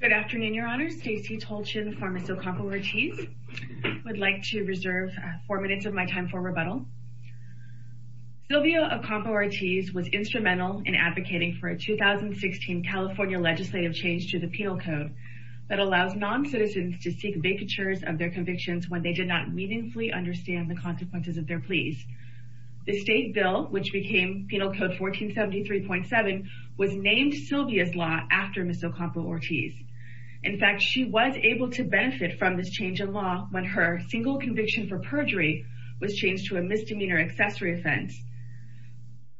Good afternoon, Your Honor. Stacey Tolchin v. Ocampo-Ortiz. I would like to reserve four minutes of my time for rebuttal. Sylvia Ocampo-Ortiz was instrumental in advocating for a 2016 California legislative change to the Penal Code that allows non-citizens to seek vacatures of their convictions when they did not meaningfully understand the consequences of their pleas. The state bill, which became Penal Code 1473.7, was named Sylvia's law after Ms. Ocampo-Ortiz. In fact, she was able to benefit from this change in law when her single conviction for perjury was changed to a misdemeanor accessory offense.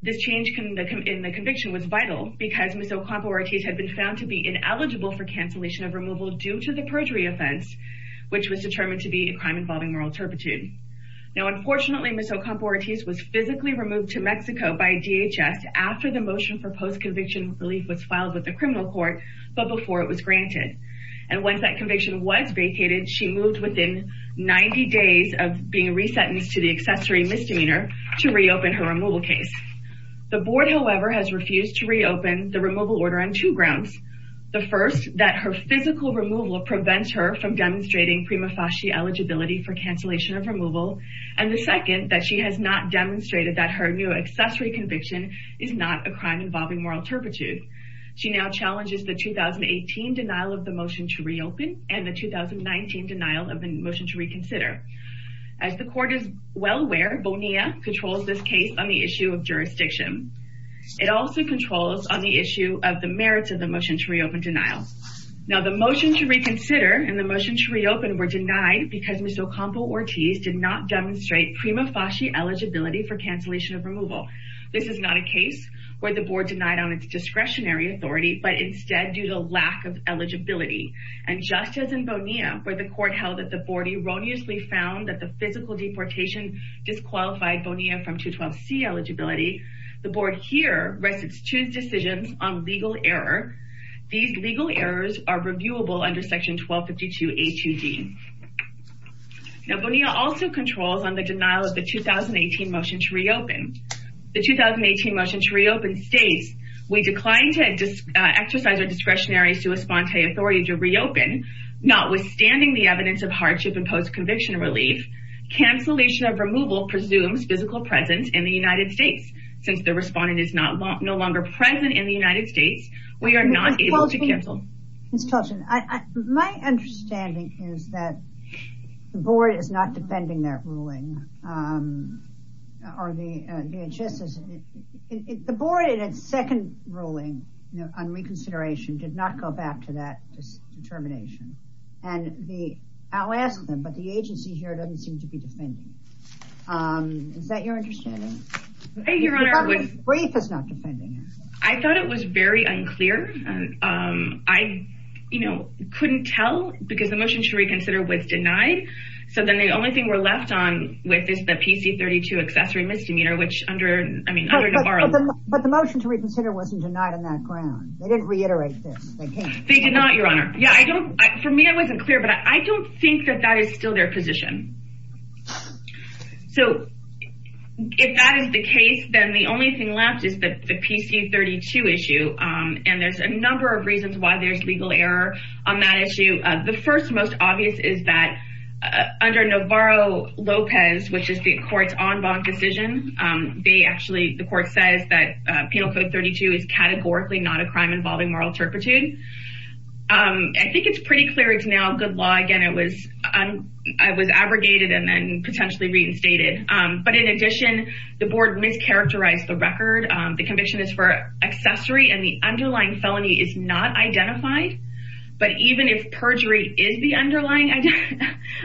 This change in the conviction was vital because Ms. Ocampo-Ortiz had been found to be ineligible for cancellation of removal due to the perjury offense, which was determined to be a crime involving moral turpitude. Now, unfortunately, Ms. Ocampo-Ortiz was physically removed to Mexico by DHS after the motion for post-conviction relief was filed with the criminal court, but before it was granted. And once that conviction was vacated, she moved within 90 days of being resentenced to the accessory misdemeanor to reopen her removal case. The board, however, has refused to reopen the removal order on two grounds. The first, that her physical removal prevents her from demonstrating prima facie eligibility for cancellation of removal. And the second, that she has not demonstrated that her new accessory conviction is not a crime involving moral turpitude. She now challenges the 2018 denial of the motion to reopen and the 2019 denial of the motion to reconsider. As the court is well aware, Bonilla controls this case on the issue of jurisdiction. It also controls on the issue of the merits of the motion to reopen denial. Now, the motion to reconsider and the motion to reopen were denied because Ms. Ocampo-Ortiz did not demonstrate prima facie eligibility for cancellation of removal. This is not a case where the board denied on its discretionary authority, but instead due to lack of eligibility. And just as in Bonilla, where the court held that the board erroneously found that the physical deportation disqualified Bonilla from 212C eligibility, the board here rests its two decisions on legal error. These legal errors are reviewable under section 1252A2D. Now, Bonilla also controls on the denial of the 2018 motion to reopen. The 2018 motion to reopen states, we declined to exercise our discretionary sui sponte authority to reopen, notwithstanding the evidence of hardship and post conviction relief. Cancellation of removal presumes physical presence in the United States. Since the respondent is no longer present in the United States, we are not able to cancel. My understanding is that the board is not defending that ruling. The board in its second ruling on reconsideration did not go back to that determination. And I'll ask them, but the agency here doesn't seem to be defending. Is that your understanding? I thought it was very unclear. I, you know, couldn't tell because the motion to reconsider was denied. So then the only thing we're left on with is the PC 32 accessory misdemeanor, which under, I mean, But the motion to reconsider wasn't denied on that ground. They didn't reiterate this. They did not, Your Honor. Yeah, I don't. For me, I wasn't clear, but I don't think that that is still their position. So if that is the case, then the only thing left is the PC 32 issue. And there's a number of reasons why there's legal error on that issue. The first most obvious is that under Navarro-Lopez, which is the court's en banc decision, they actually, the court says that Penal Code 32 is categorically not a crime involving moral turpitude. I think it's pretty clear it's now good law. Again, it was abrogated and then potentially reinstated. But in addition, the board mischaracterized the record. The conviction is for accessory, and the underlying felony is not identified. But even if perjury is the underlying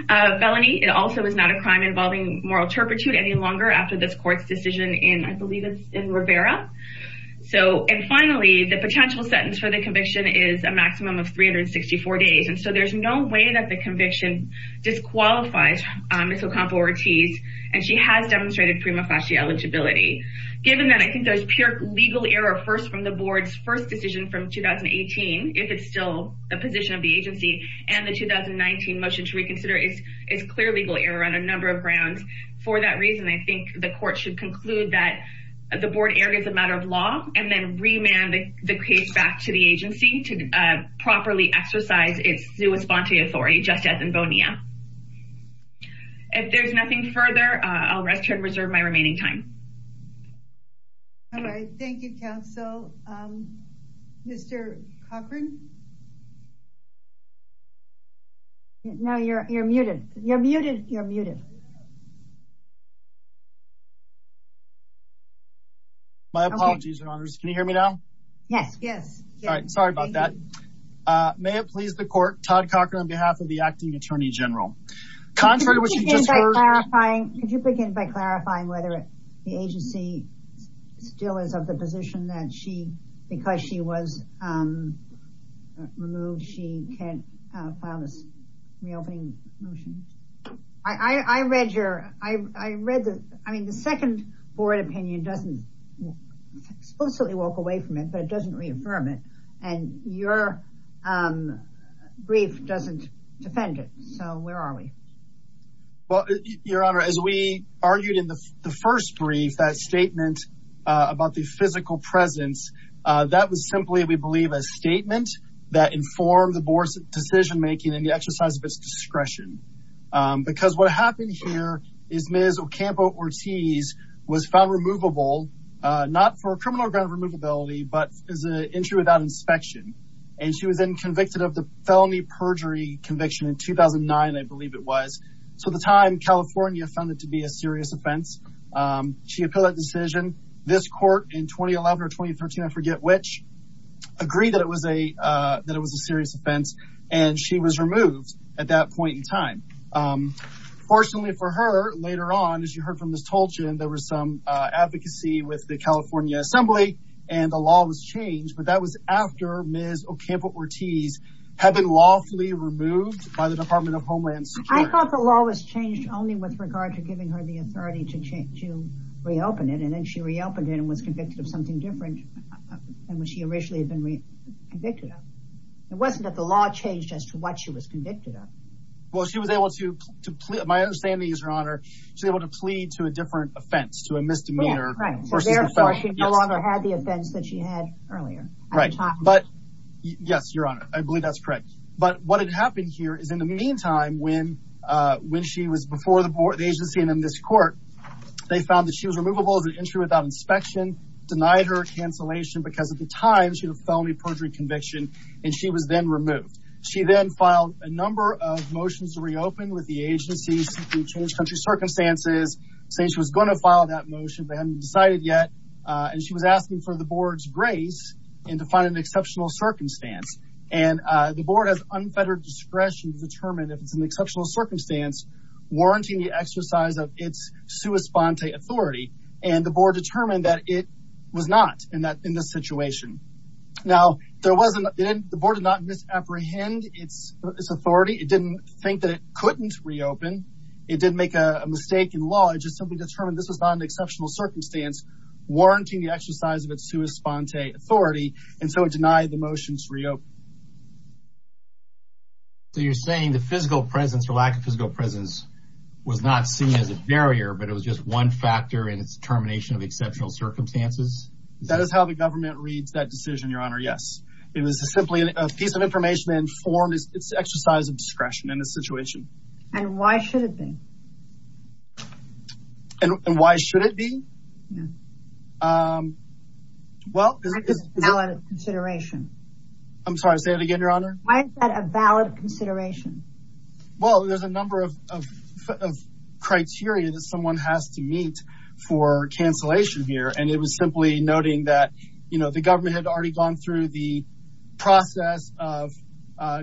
felony, it also is not a crime involving moral turpitude any longer after this court's decision in, I believe it's in Rivera. So, and finally, the potential sentence for the conviction is a maximum of 364 days. And so there's no way that the conviction disqualifies Ms. Ocampo-Ortiz, and she has demonstrated prima facie eligibility. Given that I think there's pure legal error first from the board's first decision from 2018, if it's still the position of the agency, and the 2019 motion to reconsider, it's clear legal error on a number of grounds. For that reason, I think the court should conclude that the board erred as a matter of law and then remand the case back to the agency to properly exercise its sua sponte authority, just as in Bonilla. If there's nothing further, I'll rest and reserve my remaining time. All right. Thank you, counsel. Mr. Cochran. Now you're muted. You're muted. You're muted. My apologies, Your Honors. Can you hear me now? Yes. Yes. All right. Sorry about that. May it please the court, Todd Cochran on behalf of the acting attorney general. Could you begin by clarifying whether the agency still is of the position that she, because she was removed, she can't file this reopening motion? I read your I read the I mean, the second board opinion doesn't explicitly walk away from it, but it doesn't reaffirm it. And your brief doesn't defend it. So where are we? Well, Your Honor, as we argued in the first brief, that statement about the physical presence, that was simply, we believe, a statement that informed the board's decision making and the exercise of its discretion. Because what happened here is Ms. Ocampo-Ortiz was found removable, not for a criminal ground of removability, but as an entry without inspection. And she was then convicted of the felony perjury conviction in 2009, I believe it was. So at the time, California found it to be a serious offense. She appealed that decision. This court in 2011 or 2013, I forget which, agreed that it was a that it was a serious offense. And she was removed at that point in time. Fortunately for her, later on, as you heard from Ms. Tolchin, there was some advocacy with the California Assembly and the law was changed. But that was after Ms. Ocampo-Ortiz had been lawfully removed by the Department of Homeland Security. I thought the law was changed only with regard to giving her the authority to reopen it. And then she reopened it and was convicted of something different than what she originally had been convicted of. It wasn't that the law changed as to what she was convicted of. Well, she was able to, my understanding is, Your Honor, she was able to plead to a different offense, to a misdemeanor. Therefore, she no longer had the offense that she had earlier. Right. But yes, Your Honor, I believe that's correct. But what had happened here is in the meantime, when she was before the agency and in this court, they found that she was removable as an entry without inspection, denied her cancellation because at the time, she had a felony perjury conviction, and she was then removed. She then filed a number of motions to reopen with the agency seeking to change country circumstances, saying she was going to file that motion, but hadn't decided yet. And she was asking for the board's grace and to find an exceptional circumstance. And the board has unfettered discretion to determine if it's an exceptional circumstance, warranting the exercise of its sua sponte authority. And the board determined that it was not in this situation. Now, the board did not misapprehend its authority. It didn't think that it couldn't reopen. It didn't make a mistake in law. It just simply determined this was not an exceptional circumstance, warranting the exercise of its sua sponte authority. And so it denied the motions to reopen. So you're saying the physical presence or lack of physical presence was not seen as a barrier, but it was just one factor in its determination of exceptional circumstances? That is how the government reads that decision, Your Honor, yes. It was simply a piece of information that informed its exercise of discretion in this situation. And why should it be? And why should it be? Well, it's a valid consideration. I'm sorry, say it again, Your Honor. Why is that a valid consideration? Well, there's a number of criteria that someone has to meet for cancellation here. And it was simply noting that, you know, the government had already gone through the process of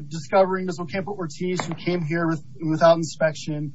discovering Ms. Ocampo-Ortiz, who came here without inspection,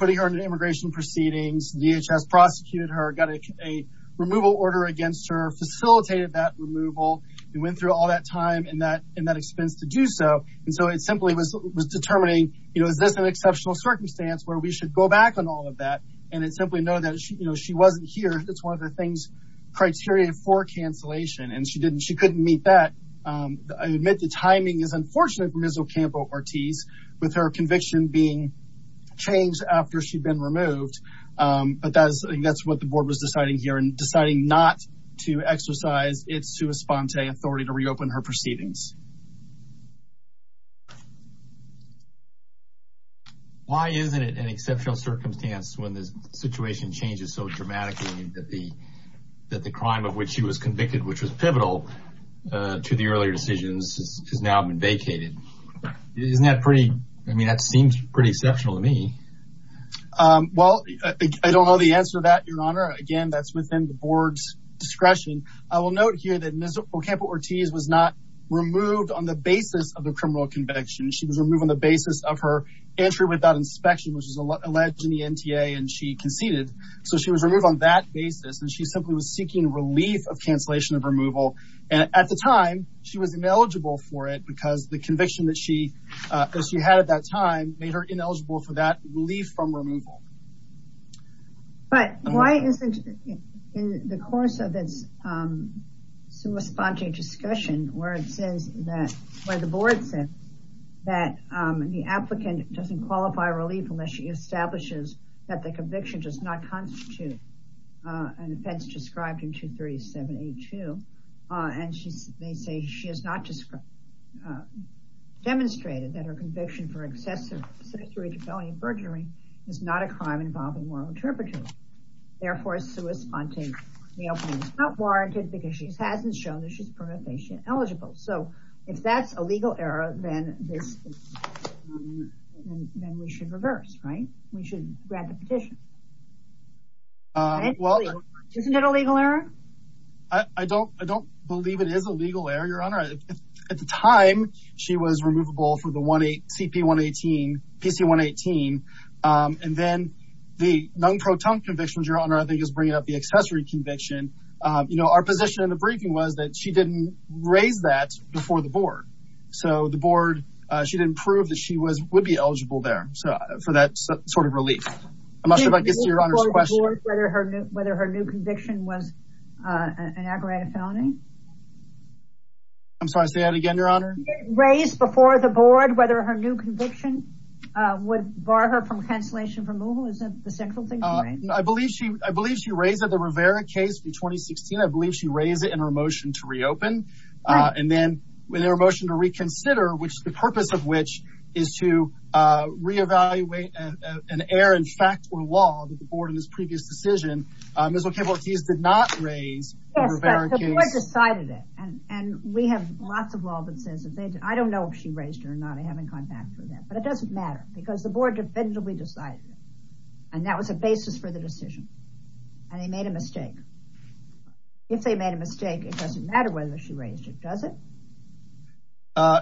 putting her into immigration proceedings, DHS prosecuted her, got a removal order against her, facilitated that removal, and went through all that time and that expense to do so. And so it simply was determining, you know, is this an exceptional circumstance where we should go back on all of that? And it simply noted that, you know, she wasn't here. That's one of the things, criteria for cancellation. And she didn't, she couldn't meet that. I admit the timing is unfortunate for Ms. Ocampo-Ortiz, with her conviction being changed after she'd been removed. But that's what the board was deciding here and deciding not to exercise its sua sponte authority to reopen her proceedings. Why isn't it an exceptional circumstance when the situation changes so dramatically that the crime of which she was convicted, which was pivotal to the earlier decisions, has now been vacated? Isn't that pretty, I mean, that seems pretty exceptional to me. Well, I don't know the answer to that, Your Honor. Again, that's within the board's discretion. I will note here that Ms. Ocampo-Ortiz was not removed on the basis of the criminal conviction. She was removed on the basis of her entry without inspection, which is alleged in the NTA, and she conceded. So she was removed on that basis. And she simply was seeking relief of cancellation of removal. And at the time, she was ineligible for it because the conviction that she had at that time made her ineligible for that relief from removal. But why isn't it in the course of this sua sponte discussion where it says that, where the board says, that the applicant doesn't qualify relief unless she establishes that the offense described in 23782. And they say, she has not demonstrated that her conviction for excessive sedentary defamatory burglary is not a crime involving moral interpreters. Therefore, sua sponte reopening is not warranted because she hasn't shown that she's probationally eligible. So if that's a legal error, then we should reverse, right? We should grant the petition. Well, isn't it a legal error? I don't, I don't believe it is a legal error. Your honor. At the time she was removable for the one eight CP one 18 PC one 18. And then the non-proton convictions, your honor, I think is bringing up the accessory conviction. You know, our position in the briefing was that she didn't raise that before the board. So the board, she didn't prove that she was would be eligible there. So for that sort of relief. I'm not sure if I can see your honor's question. Whether her new, whether her new conviction was an aggravated felony. I'm sorry. Say that again, your honor. Raised before the board, whether her new conviction. Would bar her from cancellation removal. Isn't the central thing. I believe she, I believe she raised that the Rivera case for 2016. I believe she raised it in her motion to reopen. And then when they were motion to reconsider, Which the purpose of which is to re-evaluate an error. In fact, Or law that the board in this previous decision is okay. But he's did not raise. Decided it. And we have lots of law that says. I don't know if she raised her or not. I haven't gone back for that, but it doesn't matter because the board. Defensively decided. And that was a basis for the decision. And they made a mistake. If they made a mistake, it doesn't matter whether she raised it.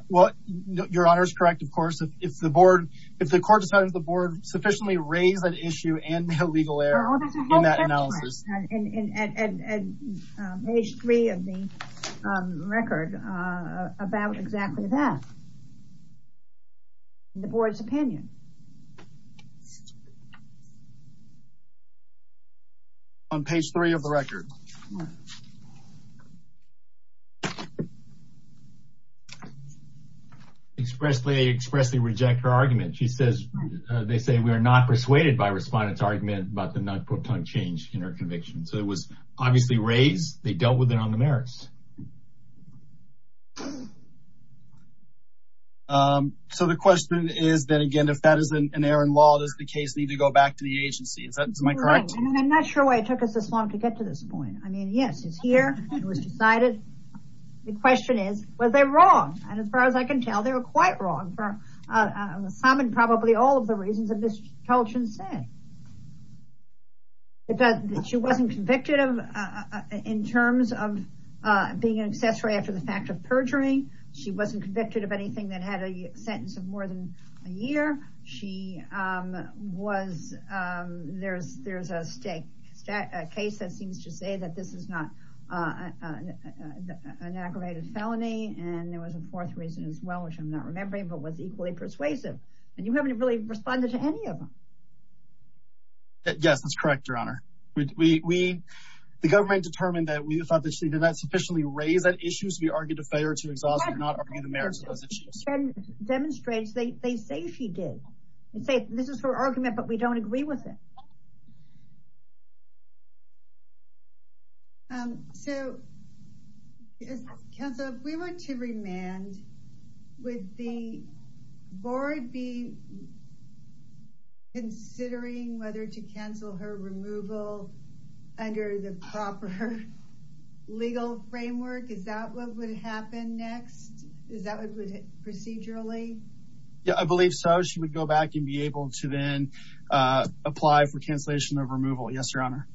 Well, your honor is correct. Of course. If the board, if the court decided, the board sufficiently raised that issue. And the legal error. In that analysis. And page three of the record. About exactly that. The board's opinion. On page three of the record. Expressly expressly reject her argument. She says. They say we are not persuaded by respondents argument. But the not put on change in her conviction. So it was obviously raised. They dealt with it on the merits. So the question is then again, if that is an error in law, does the case need to go back to the agency? Is that my correct? I'm not sure why it took us this long to get to this point. I mean, yes, it's here. It was decided. The question is, was they wrong? And as far as I can tell, they were quite wrong for. Some and probably all of the reasons of this. Colton said. It does. She wasn't convicted of. In terms of. Being an accessory after the fact of perjuring. She wasn't convicted of anything that had a sentence of more than. A year. She was. There's there's a state. A case that seems to say that this is not. An aggravated felony. And there was a fourth reason as well, which I'm not remembering, but was equally persuasive. And you haven't really responded to any of them. Yes, that's correct. Your honor. We the government determined that we thought that she did not sufficiently raise that issues. We argued a failure to exhaust. Demonstrates they say she did. This is her argument, but we don't agree with it. So. We went to remand. With the. Board B. Considering whether to cancel her removal. Under the proper. Legal framework. Is that what would happen next? Is that what. Procedurally. Yeah, I believe so. She would go back and be able to then. Apply for cancellation of removal. Yes, your honor.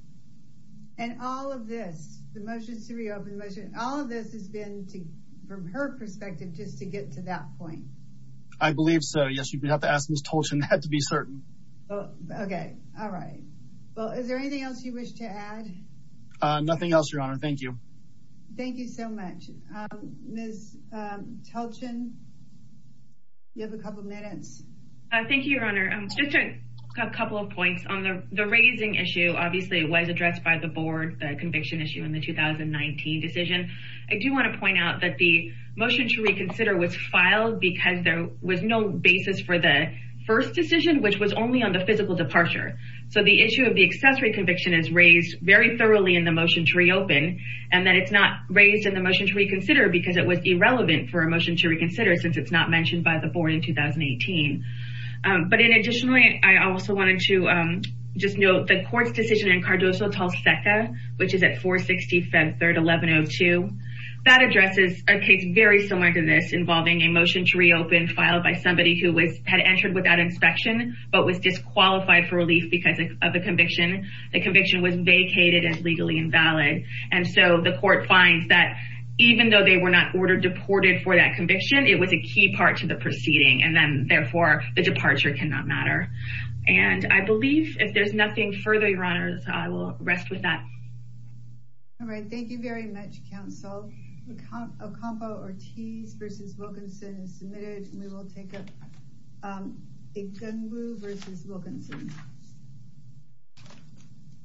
And all of this, the motions to reopen. All of this has been. From her perspective, just to get to that point. I believe so. Yes, you'd have to ask Ms. Had to be certain. Okay. All right. Well, is there anything else you wish to add? Nothing else. Your honor. Thank you. Thank you so much. Ms. You have a couple of minutes. Thank you, your honor. Just a couple of points on the, the raising issue, obviously it was addressed by the board, the conviction issue in the 2019 decision. I do want to point out that the motion to reconsider was filed because there was no basis for the first decision, which was only on the physical departure. So the issue of the accessory conviction is raised very thoroughly in the motion to reopen. And then it's not raised in the motion to reconsider because it was irrelevant for emotion to reconsider since it's not mentioned by the board in 2018. But in additionally, I also wanted to just know the court's decision in Cardoso tall second, which is at four 60 Feb 3rd, 1102. That addresses a case very similar to this involving emotion to reopen filed by somebody who was had entered without inspection, but was disqualified for relief because of the conviction. The conviction was vacated as legally invalid. And so the court finds that even though they were not ordered deported for that conviction, it was a key part to the proceeding. And then therefore the departure can not matter. And I believe if there's nothing further, your honors, I will rest with that. All right. Thank you very much. Counsel. Ocampo Ortiz versus Wilkinson is submitted. And we will take a gun blue versus Wilkinson.